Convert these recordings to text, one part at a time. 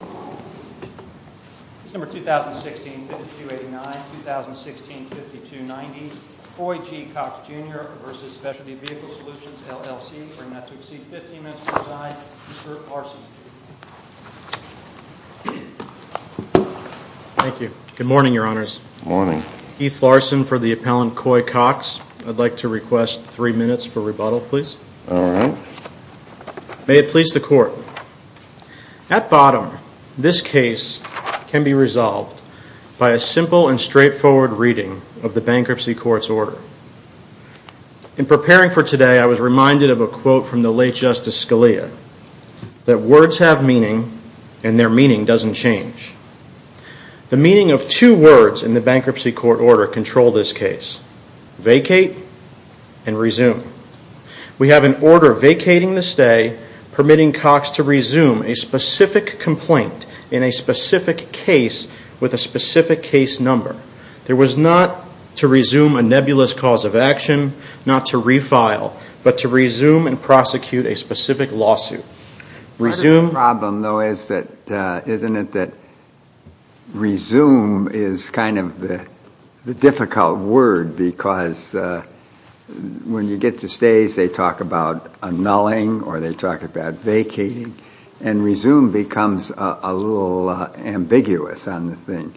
Case number 2016-5289, 2016-5290, Coy G Cox Jr v. Specialty Vehicle Solutions LLC. We're going to have to exceed 15 minutes to resign. Mr. Larson. Thank you. Good morning, your honors. Good morning. Keith Larson for the appellant Coy Cox. I'd like to request three minutes for rebuttal, please. All right. May it please the court. At bottom, this case can be resolved by a simple and straightforward reading of the bankruptcy court's order. In preparing for today, I was reminded of a quote from the late Justice Scalia, that words have meaning and their meaning doesn't change. The meaning of two words in the bankruptcy court order control this case, vacate and resume. We have an order vacating the stay, permitting Cox to resume a specific complaint in a specific case with a specific case number. There was not to resume a nebulous cause of action, not to refile, but to resume and prosecute a specific lawsuit. The problem, though, isn't it that resume is kind of the difficult word, because when you get to stays, they talk about annulling or they talk about vacating, and resume becomes a little ambiguous on the thing.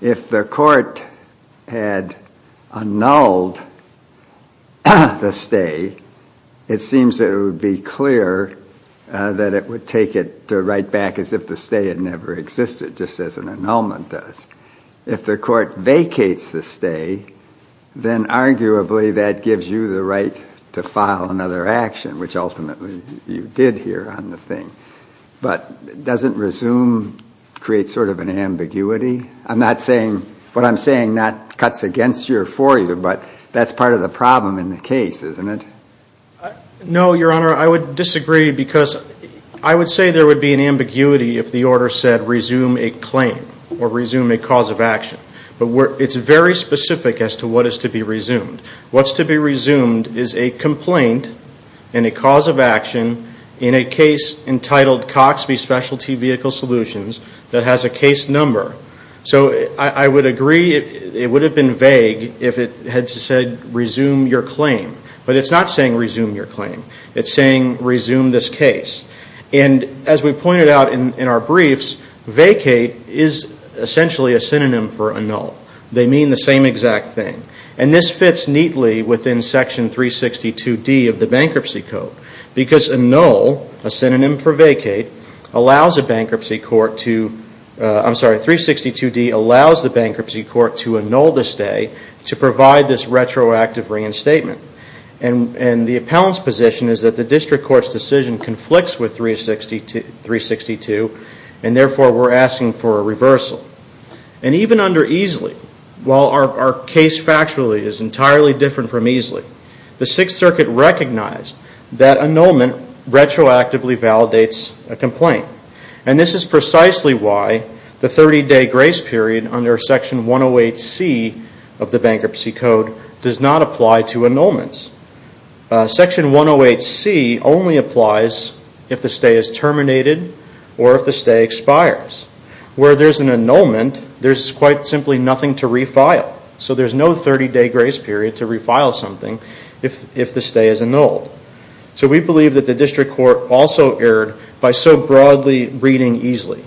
If the court had annulled the stay, it seems it would be clear that it would take it to write back as if the stay had never existed, just as an annulment does. If the court vacates the stay, then arguably that gives you the right to file another action, which ultimately you did here on the thing. But doesn't resume create sort of an ambiguity? What I'm saying not cuts against you or for you, but that's part of the problem in the case, isn't it? No, Your Honor, I would disagree because I would say there would be an ambiguity if the order said resume a claim or resume a cause of action, but it's very specific as to what is to be resumed. What's to be resumed is a complaint and a cause of action in a case entitled Coxby Specialty Vehicle Solutions that has a case number. So I would agree it would have been vague if it had said resume your claim. But it's not saying resume your claim. It's saying resume this case. And as we pointed out in our briefs, vacate is essentially a synonym for annul. They mean the same exact thing. And this fits neatly within Section 362D of the Bankruptcy Code. Because annul, a synonym for vacate, allows a bankruptcy court to, I'm sorry, 362D allows the bankruptcy court to annul the stay to provide this retroactive reinstatement. And the appellant's position is that the district court's decision conflicts with 362, and therefore we're asking for a reversal. And even under EESLY, while our case factually is entirely different from EESLY, the Sixth Circuit recognized that annulment retroactively validates a complaint. And this is precisely why the 30-day grace period under Section 108C of the Bankruptcy Code does not apply to annulments. Section 108C only applies if the stay is terminated or if the stay expires. Where there's an annulment, there's quite simply nothing to refile. So there's no 30-day grace period to refile something if the stay is annulled. So we believe that the district court also erred by so broadly reading EESLY.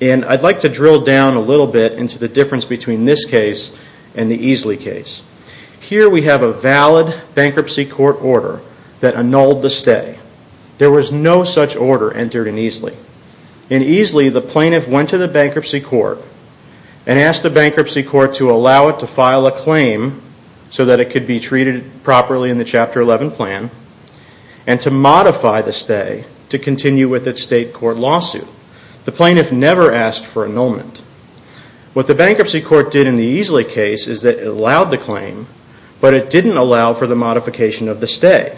And I'd like to drill down a little bit into the difference between this case and the EESLY case. Here we have a valid bankruptcy court order that annulled the stay. There was no such order entered in EESLY. In EESLY, the plaintiff went to the bankruptcy court and asked the bankruptcy court to allow it to file a claim so that it could be treated properly in the Chapter 11 plan and to modify the stay to continue with its state court lawsuit. The plaintiff never asked for annulment. What the bankruptcy court did in the EESLY case is that it allowed the claim, but it didn't allow for the modification of the stay.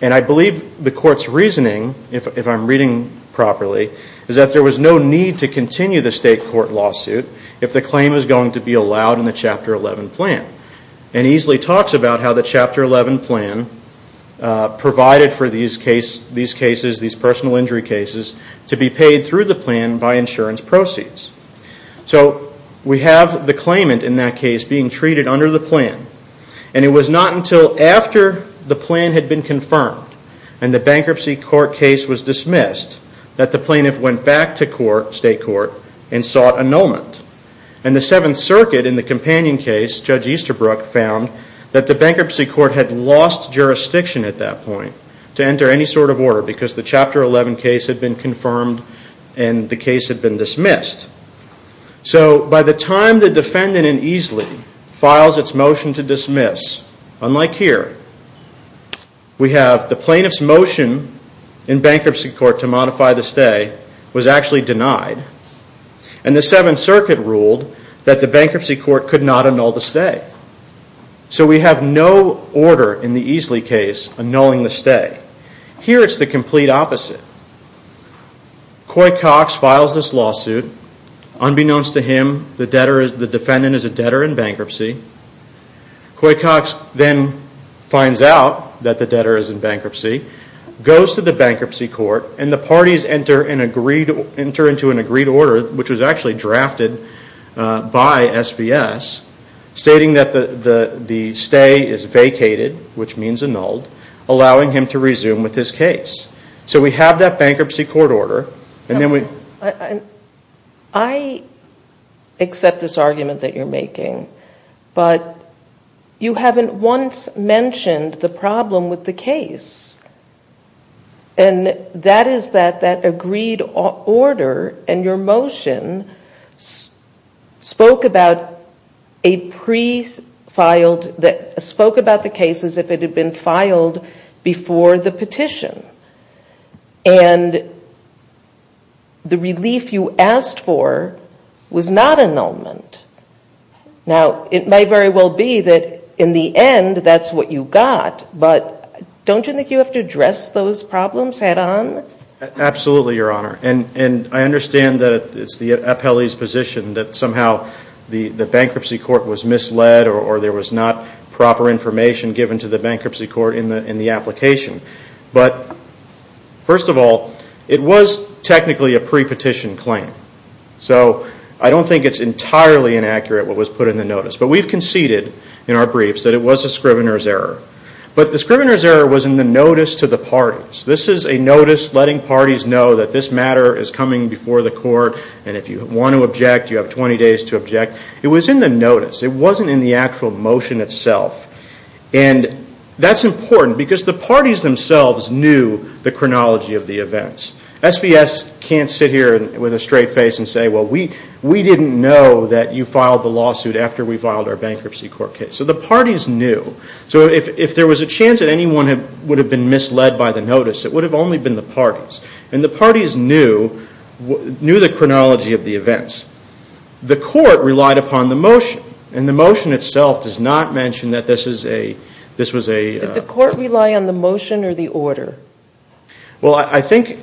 And I believe the court's reasoning, if I'm reading properly, is that there was no need to continue the state court lawsuit if the claim was going to be allowed in the Chapter 11 plan. And EESLY talks about how the Chapter 11 plan provided for these cases, these personal injury cases, to be paid through the plan by insurance proceeds. So we have the claimant in that case being treated under the plan. And it was not until after the plan had been confirmed and the bankruptcy court case was dismissed that the plaintiff went back to state court and sought annulment. And the Seventh Circuit in the companion case, Judge Easterbrook, found that the bankruptcy court had lost jurisdiction at that point to enter any sort of order because the Chapter 11 case had been confirmed and the case had been dismissed. So by the time the defendant in EESLY files its motion to dismiss, unlike here, we have the plaintiff's motion in bankruptcy court to modify the stay was actually denied. And the Seventh Circuit ruled that the bankruptcy court could not annul the stay. So we have no order in the EESLY case annulling the stay. Here it's the complete opposite. Coy Cox files this lawsuit. Unbeknownst to him, the defendant is a debtor in bankruptcy. Coy Cox then finds out that the debtor is in bankruptcy, goes to the bankruptcy court, and the parties enter into an agreed order, which was actually drafted by SVS, stating that the stay is vacated, which means annulled, allowing him to resume with his case. So we have that bankruptcy court order. I accept this argument that you're making, but you haven't once mentioned the problem with the case. And that is that that agreed order and your motion spoke about a pre-filed, spoke about the case as if it had been filed before the petition. And the relief you asked for was not annulment. Now, it may very well be that in the end that's what you got, but don't you think you have to address those problems head on? Absolutely, Your Honor. And I understand that it's the appellee's position that somehow the bankruptcy court was misled or there was not proper information given to the bankruptcy court in the application. But first of all, it was technically a pre-petition claim. So I don't think it's entirely inaccurate what was put in the notice. But we've conceded in our briefs that it was a scrivener's error. But the scrivener's error was in the notice to the parties. This is a notice letting parties know that this matter is coming before the court and if you want to object, you have 20 days to object. It was in the notice. It wasn't in the actual motion itself. And that's important because the parties themselves knew the chronology of the events. SVS can't sit here with a straight face and say, well, we didn't know that you filed the lawsuit after we filed our bankruptcy court case. So the parties knew. So if there was a chance that anyone would have been misled by the notice, it would have only been the parties. And the parties knew the chronology of the events. The court relied upon the motion. And the motion itself does not mention that this was a – Did the court rely on the motion or the order? Well, I think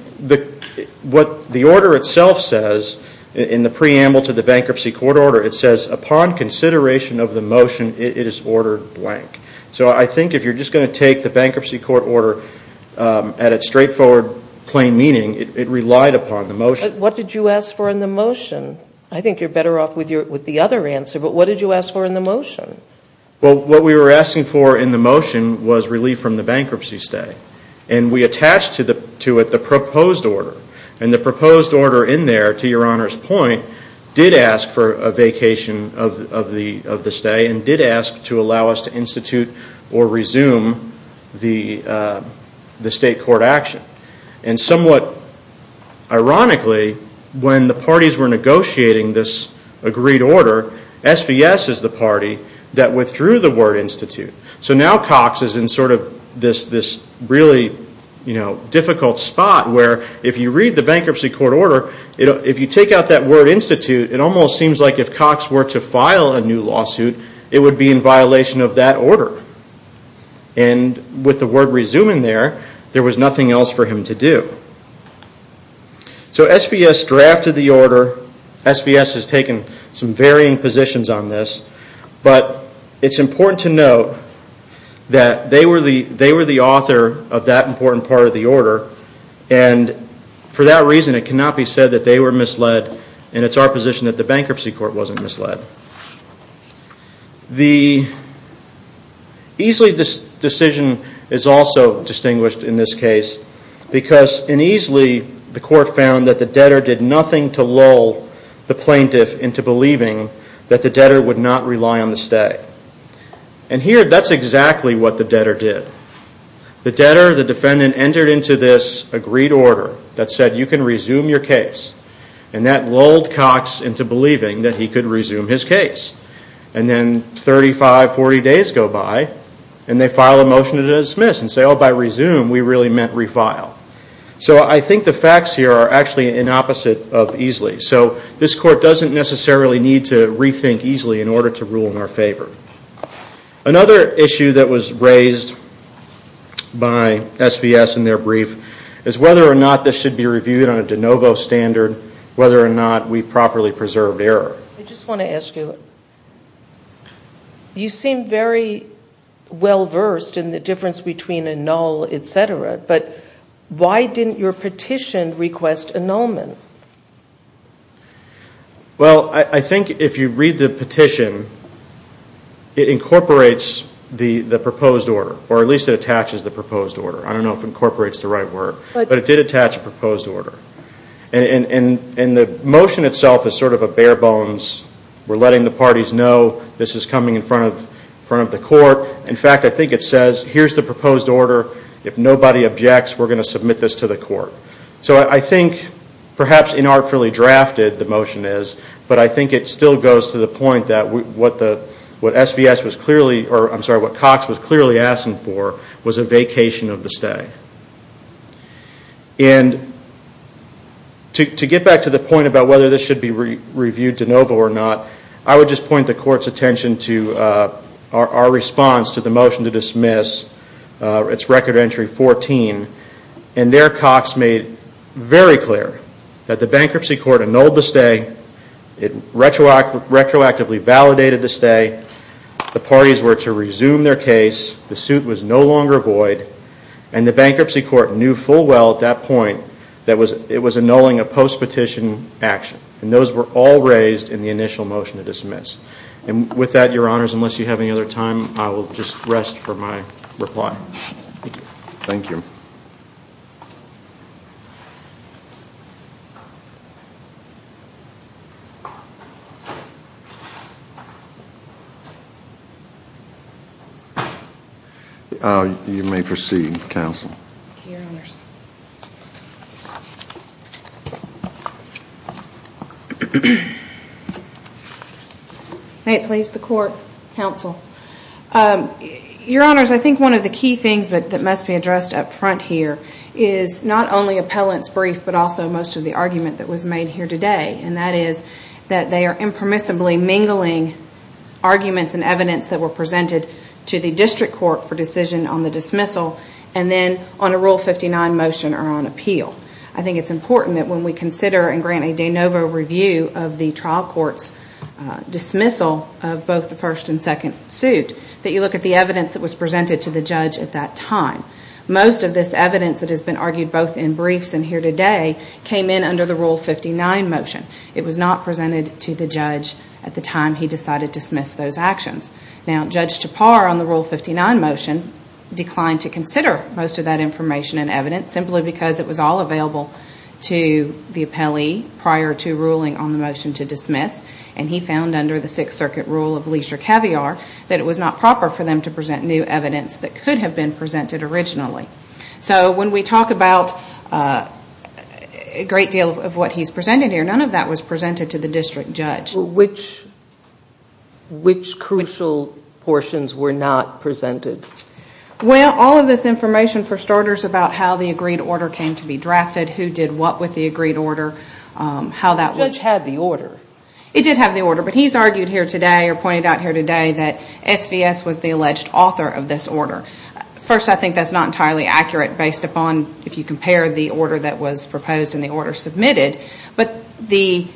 what the order itself says in the preamble to the bankruptcy court order, it says upon consideration of the motion, it is ordered blank. So I think if you're just going to take the bankruptcy court order at its straightforward plain meaning, it relied upon the motion. What did you ask for in the motion? I think you're better off with the other answer. But what did you ask for in the motion? Well, what we were asking for in the motion was relief from the bankruptcy stay. And we attached to it the proposed order. And the proposed order in there, to Your Honor's point, did ask for a vacation of the stay and did ask to allow us to institute or resume the state court action. And somewhat ironically, when the parties were negotiating this agreed order, SVS is the party that withdrew the word institute. So now Cox is in sort of this really difficult spot where if you read the bankruptcy court order, if you take out that word institute, it almost seems like if Cox were to file a new lawsuit, it would be in violation of that order. And with the word resuming there, there was nothing else for him to do. So SVS drafted the order. SVS has taken some varying positions on this. But it's important to note that they were the author of that important part of the order. And for that reason, it cannot be said that they were misled and it's our position that the bankruptcy court wasn't misled. The Easley decision is also distinguished in this case because in Easley the court found that the debtor did nothing to lull the plaintiff into believing that the debtor would not rely on the stay. And here that's exactly what the debtor did. The debtor, the defendant, entered into this agreed order that said you can resume your case and that lulled Cox into believing that he could resume his case. And then 35, 40 days go by and they file a motion to dismiss and say, oh, by resume we really meant refile. So I think the facts here are actually an opposite of Easley. So this court doesn't necessarily need to rethink Easley in order to rule in our favor. Another issue that was raised by SVS in their brief is whether or not this should be reviewed on a de novo standard, whether or not we properly preserved error. I just want to ask you, you seem very well versed in the difference between a null, etc., but why didn't your petition request a nullment? Well, I think if you read the petition, it incorporates the proposed order, or at least it attaches the proposed order. I don't know if incorporates the right word, but it did attach a proposed order. And the motion itself is sort of a bare bones. We're letting the parties know this is coming in front of the court. In fact, I think it says here's the proposed order. If nobody objects, we're going to submit this to the court. So I think perhaps inartfully drafted the motion is, but I think it still goes to the point that what SVS was clearly, or I'm sorry, what Cox was clearly asking for was a vacation of the stay. And to get back to the point about whether this should be reviewed de novo or not, I would just point the court's attention to our response to the motion to dismiss its record entry 14. And there Cox made very clear that the bankruptcy court annulled the stay. It retroactively validated the stay. The parties were to resume their case. The suit was no longer void. And the bankruptcy court knew full well at that point that it was annulling a post-petition action. And those were all raised in the initial motion to dismiss. And with that, your honors, unless you have any other time, I will just rest for my reply. Thank you. You may proceed, counsel. Thank you, your honors. May it please the court, counsel. Your honors, I think one of the key things that must be addressed up front here is not only appellant's brief, but also most of the argument that was made here today, and that is that they are impermissibly mingling arguments and evidence that were presented to the district court for decision on the dismissal and then on a Rule 59 motion or on appeal. I think it's important that when we consider and grant a de novo review of the trial court's dismissal of both the first and second suit, that you look at the evidence that was presented to the judge at that time. Most of this evidence that has been argued both in briefs and here today came in under the Rule 59 motion. It was not presented to the judge at the time he decided to dismiss those actions. Now, Judge Tappar on the Rule 59 motion declined to consider most of that information and evidence simply because it was all available to the appellee prior to ruling on the motion to dismiss. And he found under the Sixth Circuit Rule of Leisure Caviar that it was not proper for them to present new evidence that could have been presented originally. So when we talk about a great deal of what he's presented here, none of that was presented to the district judge. Which crucial portions were not presented? Well, all of this information, for starters, about how the agreed order came to be drafted, who did what with the agreed order, how that was... It did have the order, but he's argued here today or pointed out here today that SVS was the alleged author of this order. First, I think that's not entirely accurate based upon if you compare the order that was proposed and the order submitted, but the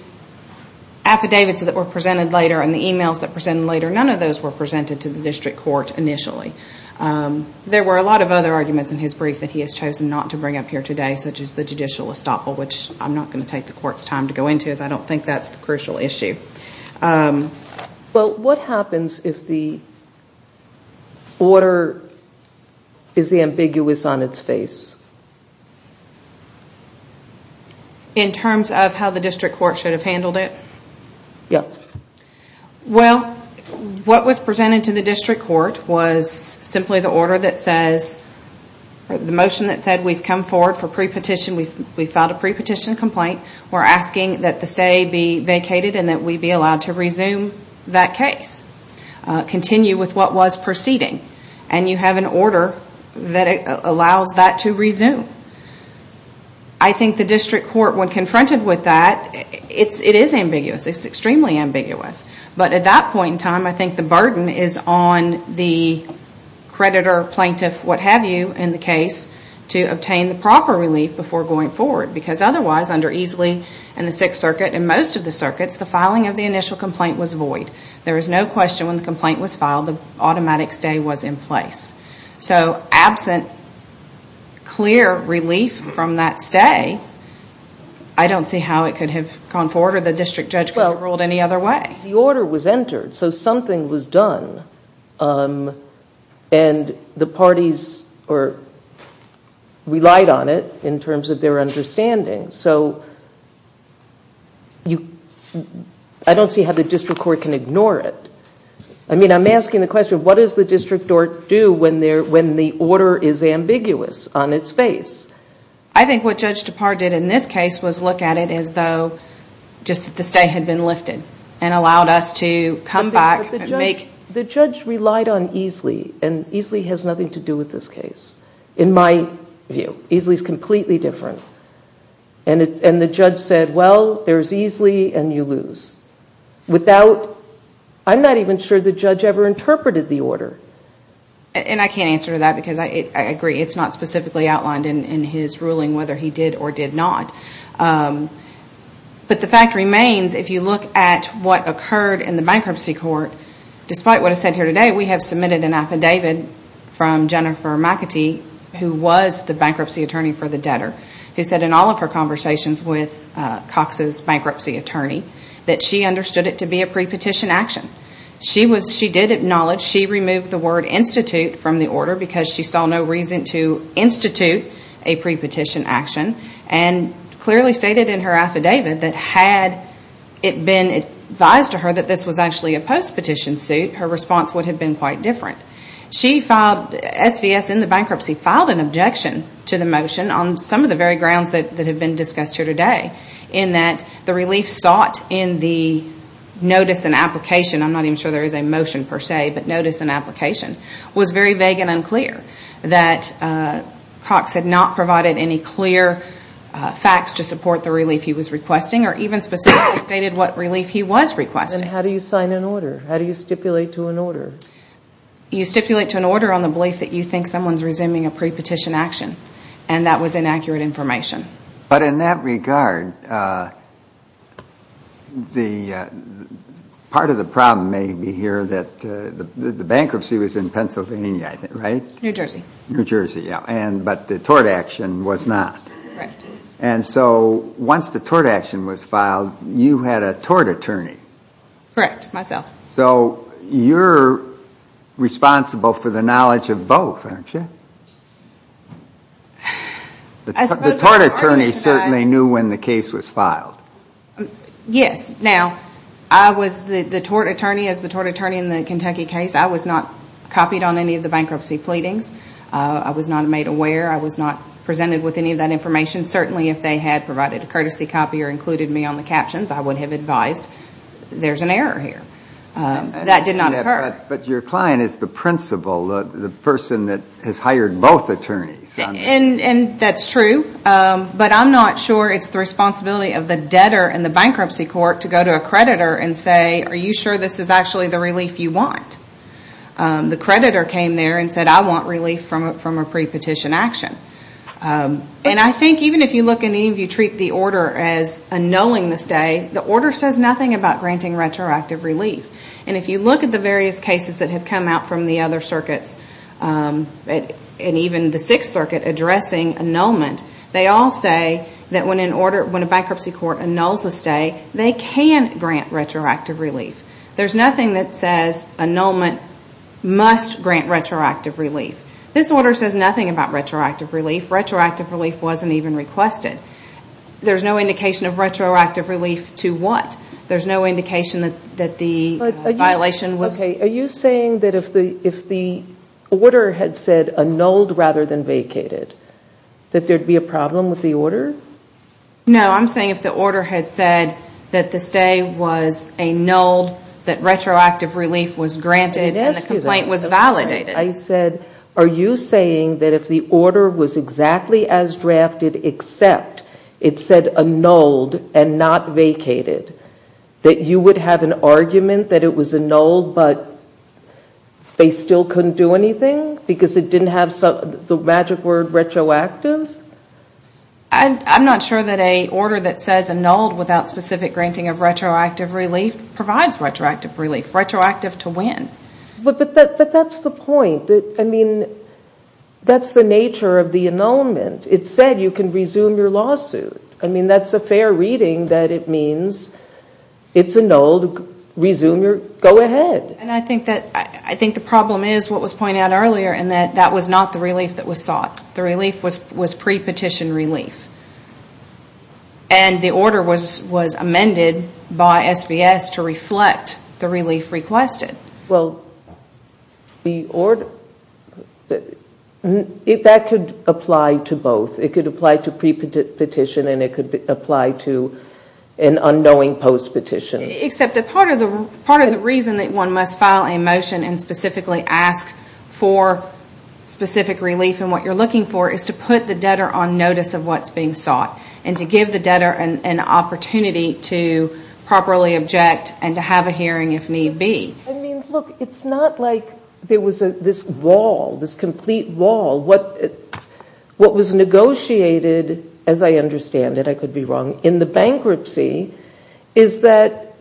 affidavits that were presented later and the emails that were presented later, none of those were presented to the district court initially. There were a lot of other arguments in his brief that he has chosen not to bring up here today, such as the judicial estoppel, which I'm not going to take the court's time to go into because I don't think that's the crucial issue. Well, what happens if the order is ambiguous on its face? In terms of how the district court should have handled it? Yes. Well, what was presented to the district court was simply the order that says, the motion that said we've come forward for pre-petition, we've filed a pre-petition complaint. We're asking that the stay be vacated and that we be allowed to resume that case, continue with what was proceeding. And you have an order that allows that to resume. I think the district court, when confronted with that, it is ambiguous. It's extremely ambiguous. But at that point in time, I think the burden is on the creditor, plaintiff, what have you in the case to obtain the proper relief before going forward. Because otherwise, under Easley and the Sixth Circuit and most of the circuits, the filing of the initial complaint was void. There is no question when the complaint was filed, the automatic stay was in place. So absent clear relief from that stay, I don't see how it could have gone forward or the district judge could have ruled any other way. The order was entered, so something was done. And the parties relied on it in terms of their understanding. So I don't see how the district court can ignore it. I mean, I'm asking the question, what does the district court do when the order is ambiguous on its face? I think what Judge Depard did in this case was look at it as though just that the stay had been lifted and allowed us to come back and make... But the judge relied on Easley, and Easley has nothing to do with this case, in my view. Easley is completely different. And the judge said, well, there's Easley and you lose. Without, I'm not even sure the judge ever interpreted the order. And I can't answer that because I agree it's not specifically outlined in his ruling whether he did or did not. But the fact remains, if you look at what occurred in the bankruptcy court, despite what is said here today, we have submitted an affidavit from Jennifer McAtee, who was the bankruptcy attorney for the debtor, who said in all of her conversations with Cox's bankruptcy attorney that she understood it to be a pre-petition action. She did acknowledge she removed the word institute from the order because she saw no reason to institute a pre-petition action. And clearly stated in her affidavit that had it been advised to her that this was actually a post-petition suit, her response would have been quite different. She filed, SVS in the bankruptcy, filed an objection to the motion on some of the very grounds that have been discussed here today, in that the relief sought in the notice and application, I'm not even sure there is a motion per se, but notice and application, was very vague and unclear. That Cox had not provided any clear facts to support the relief he was requesting or even specifically stated what relief he was requesting. Then how do you sign an order? How do you stipulate to an order? You stipulate to an order on the belief that you think someone is resuming a pre-petition action. And that was inaccurate information. But in that regard, part of the problem may be here that the bankruptcy was in Pennsylvania, right? New Jersey. New Jersey, yeah, but the tort action was not. Correct. And so once the tort action was filed, you had a tort attorney. Correct, myself. So you're responsible for the knowledge of both, aren't you? The tort attorney certainly knew when the case was filed. Yes. Now, I was the tort attorney. As the tort attorney in the Kentucky case, I was not copied on any of the bankruptcy pleadings. I was not made aware. I was not presented with any of that information. Certainly if they had provided a courtesy copy or included me on the captions, I would have advised there's an error here. That did not occur. But your client is the principal, the person that has hired both attorneys. And that's true. But I'm not sure it's the responsibility of the debtor in the bankruptcy court to go to a creditor and say, are you sure this is actually the relief you want? The creditor came there and said, I want relief from a pre-petition action. And I think even if you look and even if you treat the order as annulling the stay, the order says nothing about granting retroactive relief. And if you look at the various cases that have come out from the other circuits, and even the Sixth Circuit addressing annulment, they all say that when a bankruptcy court annuls a stay, they can grant retroactive relief. There's nothing that says annulment must grant retroactive relief. This order says nothing about retroactive relief. Retroactive relief wasn't even requested. There's no indication of retroactive relief to what? There's no indication that the violation was? Are you saying that if the order had said annulled rather than vacated, that there'd be a problem with the order? No, I'm saying if the order had said that the stay was annulled, that retroactive relief was granted, and the complaint was validated. I said, are you saying that if the order was exactly as drafted except it said annulled and not vacated, that you would have an argument that it was annulled but they still couldn't do anything? Because it didn't have the magic word retroactive? I'm not sure that an order that says annulled without specific granting of retroactive relief provides retroactive relief. Retroactive to when? But that's the point. I mean, that's the nature of the annulment. It said you can resume your lawsuit. I mean, that's a fair reading that it means it's annulled, resume your, go ahead. And I think the problem is what was pointed out earlier in that that was not the relief that was sought. The relief was pre-petition relief. And the order was amended by SBS to reflect the relief requested. Well, the order, that could apply to both. It could apply to pre-petition and it could apply to an unknowing post-petition. Except that part of the reason that one must file a motion and specifically ask for specific relief and what you're looking for is to put the debtor on notice of what's being sought and to give the debtor an opportunity to properly object and to have a hearing if need be. I mean, look, it's not like there was this wall, this complete wall. What was negotiated, as I understand it, I could be wrong, in the bankruptcy, is that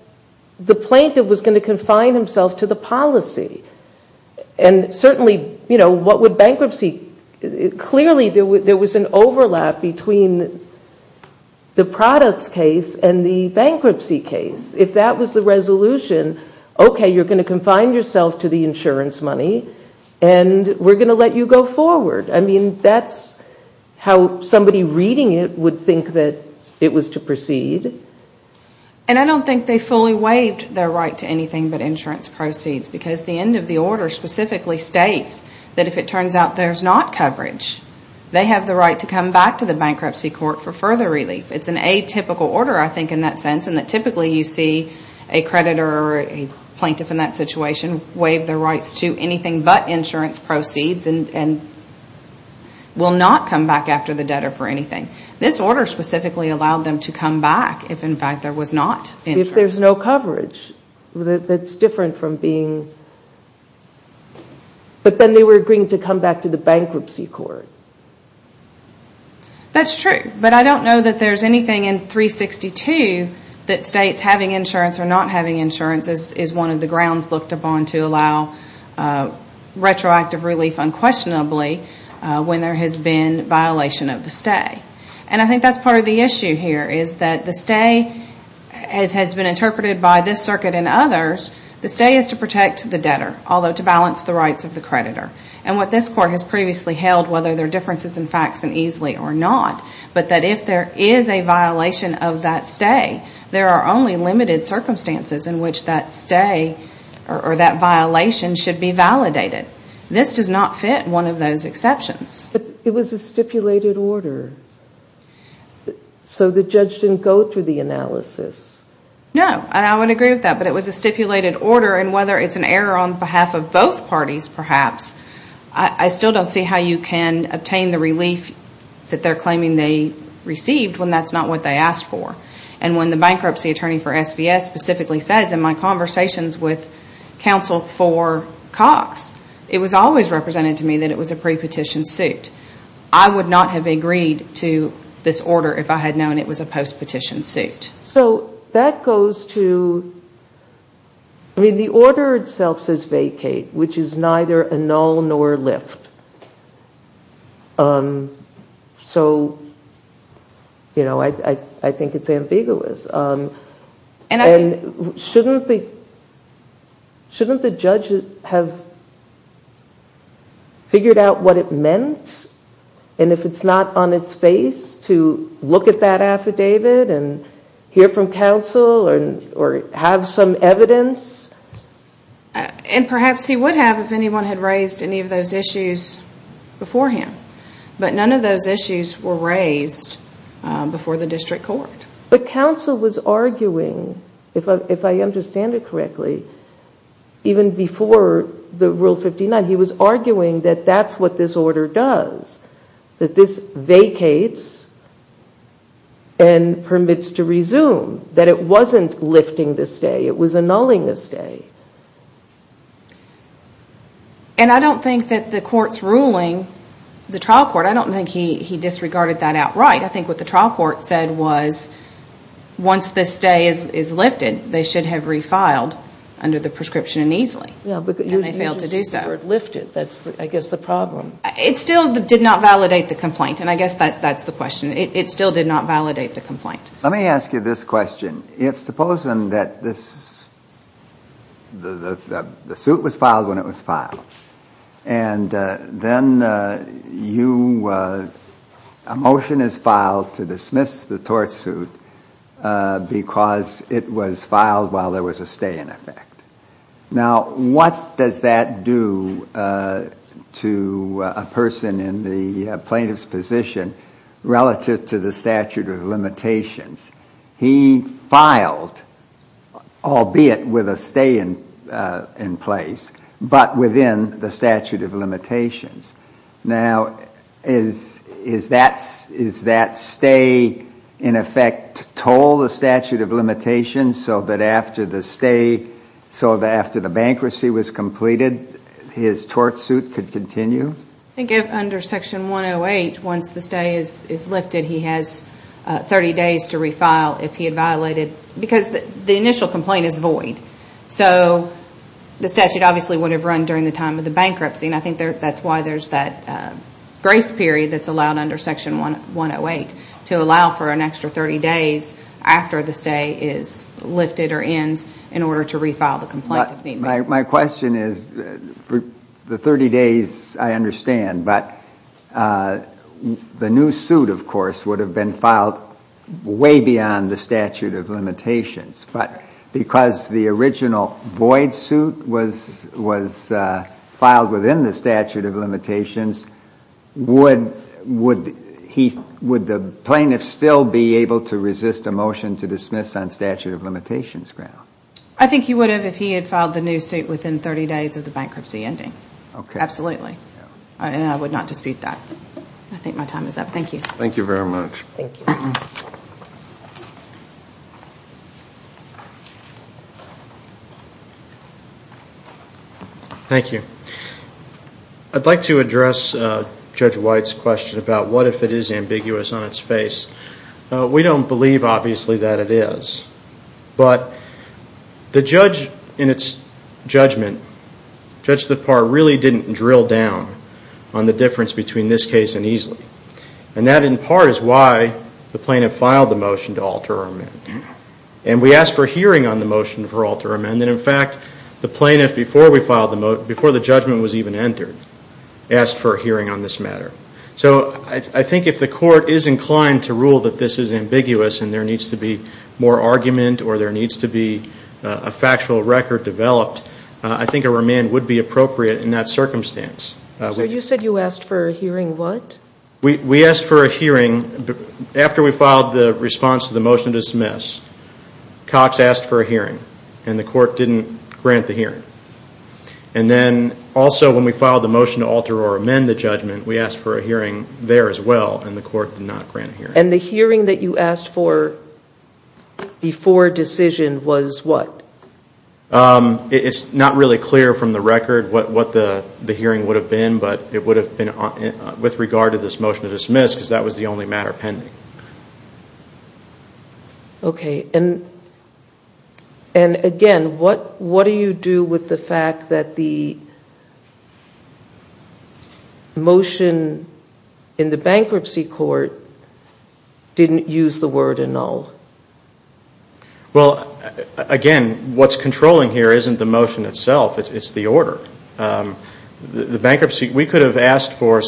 the plaintiff was going to confine himself to the policy. And certainly, you know, what would bankruptcy, clearly there was an overlap between the products case and the bankruptcy case. If that was the resolution, okay, you're going to confine yourself to the insurance money and we're going to let you go forward. I mean, that's how somebody reading it would think that it was to proceed. And I don't think they fully waived their right to anything but insurance proceeds because the end of the order specifically states that if it turns out there's not coverage, they have the right to come back to the bankruptcy court for further relief. It's an atypical order, I think, in that sense in that typically you see a creditor or a plaintiff in that situation waive their rights to anything but insurance proceeds and will not come back after the debtor for anything. This order specifically allowed them to come back if, in fact, there was not insurance. If there's no coverage, that's different from being, but then they were agreeing to come back to the bankruptcy court. That's true, but I don't know that there's anything in 362 that states having insurance or not having insurance is one of the grounds looked upon to allow retroactive relief unquestionably when there has been violation of the stay. And I think that's part of the issue here is that the stay, as has been interpreted by this circuit and others, the stay is to protect the debtor, although to balance the rights of the creditor. And what this court has previously held, whether there are differences in facts and easily or not, but that if there is a violation of that stay, there are only limited circumstances in which that stay or that violation should be validated. This does not fit one of those exceptions. But it was a stipulated order, so the judge didn't go through the analysis. No, and I would agree with that. But it was a stipulated order, and whether it's an error on behalf of both parties, perhaps, I still don't see how you can obtain the relief that they're claiming they received when that's not what they asked for. And when the bankruptcy attorney for SVS specifically says in my conversations with counsel for Cox, it was always represented to me that it was a pre-petition suit. I would not have agreed to this order if I had known it was a post-petition suit. So that goes to, I mean, the order itself says vacate, which is neither annul nor lift. So, you know, I think it's ambiguous. And shouldn't the judge have figured out what it meant? And if it's not on its face to look at that affidavit and hear from counsel or have some evidence? And perhaps he would have if anyone had raised any of those issues beforehand. But none of those issues were raised before the district court. But counsel was arguing, if I understand it correctly, even before the Rule 59, he was arguing that that's what this order does. That this vacates and permits to resume. That it wasn't lifting the stay, it was annulling the stay. And I don't think that the court's ruling, the trial court, I don't think he disregarded that outright. I think what the trial court said was once this stay is lifted, they should have refiled under the prescription uneasily. And they failed to do so. It still did not validate the complaint. And I guess that's the question. It still did not validate the complaint. Let me ask you this question. Supposing that the suit was filed when it was filed. And then a motion is filed to dismiss the tort suit because it was filed while there was a stay in effect. Now, what does that do to a person in the plaintiff's position relative to the statute of limitations? He filed, albeit with a stay in place, but within the statute of limitations. Now, is that stay in effect toll the statute of limitations so that after the bankruptcy was completed, his tort suit could continue? I think under section 108, once the stay is lifted, he has 30 days to refile if he had violated. Because the initial complaint is void. So the statute obviously would have run during the time of the bankruptcy. And I think that's why there's that grace period that's allowed under section 108, to allow for an extra 30 days after the stay is lifted or ends in order to refile the complaint. My question is, the 30 days I understand, but the new suit, of course, would have been filed way beyond the statute of limitations. But because the original void suit was filed within the statute of limitations, would the plaintiff still be able to resist a motion to dismiss on statute of limitations ground? I think he would have if he had filed the new suit within 30 days of the bankruptcy ending. Absolutely. And I would not dispute that. I think my time is up. Thank you. Thank you. I'd like to address Judge White's question about what if it is ambiguous on its face. We don't believe, obviously, that it is. But the judge in its judgment, Judge Thapar, really didn't drill down on the difference between this case and Easley. And that, in part, is why the plaintiff filed the motion to alter amendment. And we asked for a hearing on the motion for alter amendment. And then, in fact, the plaintiff, before the judgment was even entered, asked for a hearing on this matter. So I think if the court is inclined to rule that this is ambiguous and there needs to be more argument or there needs to be a factual record developed, I think a remand would be appropriate in that circumstance. So you said you asked for a hearing what? We asked for a hearing after we filed the response to the motion to dismiss. Cox asked for a hearing. And the court didn't grant the hearing. And then, also, when we filed the motion to alter or amend the judgment, we asked for a hearing there as well. And the court did not grant a hearing. And the hearing that you asked for before decision was what? It's not really clear from the record what the hearing would have been, but it would have been with regard to this motion to dismiss because that was the only matter pending. Okay. And, again, what do you do with the fact that the motion in the bankruptcy court didn't use the word annul? Well, again, what's controlling here isn't the motion itself. It's the order. The bankruptcy, we could have asked for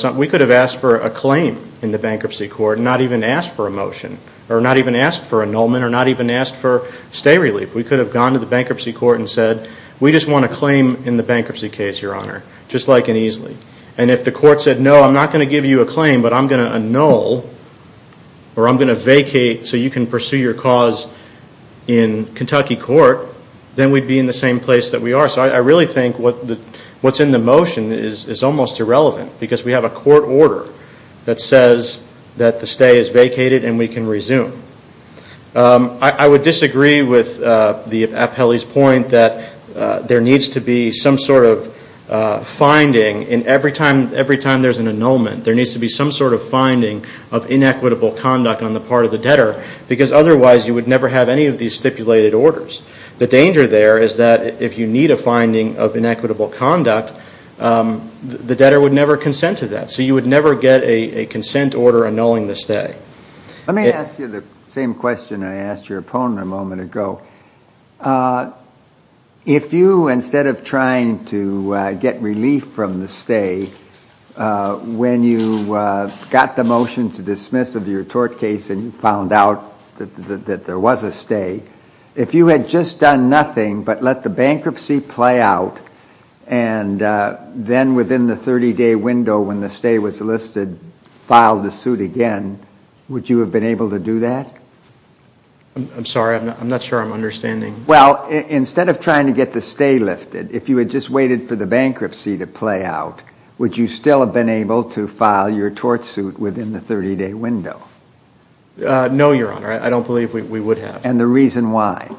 a claim in the bankruptcy court and not even asked for a motion or not even asked for annulment or not even asked for stay relief. We could have gone to the bankruptcy court and said we just want a claim in the bankruptcy case, Your Honor, just like in Easley. And if the court said, no, I'm not going to give you a claim, but I'm going to annul or I'm going to vacate so you can pursue your cause in Kentucky court, then we'd be in the same place that we are. So I really think what's in the motion is almost irrelevant because we have a court order that says that the stay is vacated and we can resume. I would disagree with the appellee's point that there needs to be some sort of finding and every time there's an annulment, there needs to be some sort of finding of inequitable conduct on the part of the debtor because otherwise you would never have any of these stipulated orders. The danger there is that if you need a finding of inequitable conduct, the debtor would never consent to that. So you would never get a consent order annulling the stay. Let me ask you the same question I asked your opponent a moment ago. If you, instead of trying to get relief from the stay, when you got the motion to dismiss of your tort case and you found out that there was a stay, if you had just done nothing but let the bankruptcy play out and then within the 30-day window when the stay was listed, filed the suit again, would you have been able to do that? I'm sorry. I'm not sure I'm understanding. Well, instead of trying to get the stay lifted, if you had just waited for the bankruptcy to play out, would you still have been able to file your tort suit within the 30-day window? No, Your Honor. I don't believe we would have. And the reason why?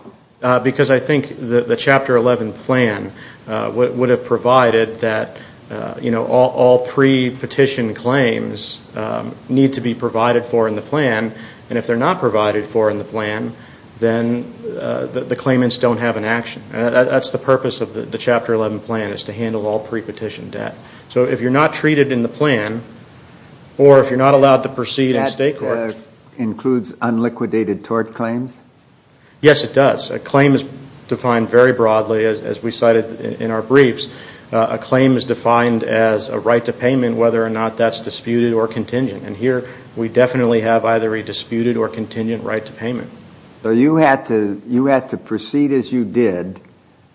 Because I think the Chapter 11 plan would have provided that all pre-petition claims need to be provided for in the plan, and if they're not provided for in the plan, then the claimants don't have an action. That's the purpose of the Chapter 11 plan, is to handle all pre-petition debt. So if you're not treated in the plan, or if you're not allowed to proceed in state courts... That includes unliquidated tort claims? Yes, it does. A claim is defined very broadly, as we cited in our briefs. A claim is defined as a right to payment, whether or not that's disputed or contingent. And here, we definitely have either a disputed or contingent right to payment. So you had to proceed as you did,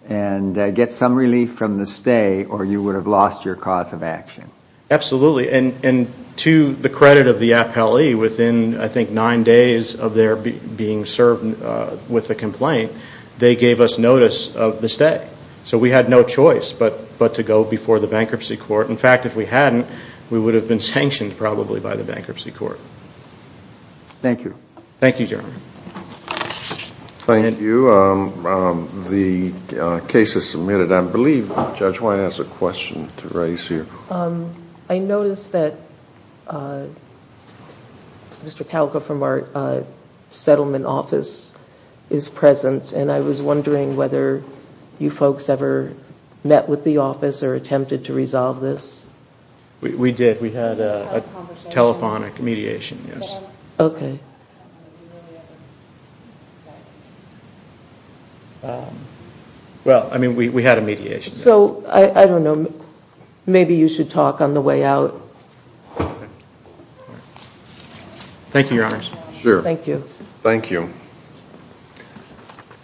and get some relief from the stay, or you would have lost your cause of action? Absolutely. And to the credit of the appellee, within, I think, nine days of their being served with a complaint, they gave us notice of the stay. So we had no choice but to go before the bankruptcy court. In fact, if we hadn't, we would have been sanctioned, probably, by the bankruptcy court. Thank you. Thank you. The case is submitted. I believe Judge White has a question to raise here. I notice that Mr. Palco from our settlement office is present, and I was wondering whether you folks ever met with the office, or attempted to resolve this? We did. We had a telephonic mediation, yes. Okay. Well, I mean, we had a mediation. So, I don't know, maybe you should talk on the way out.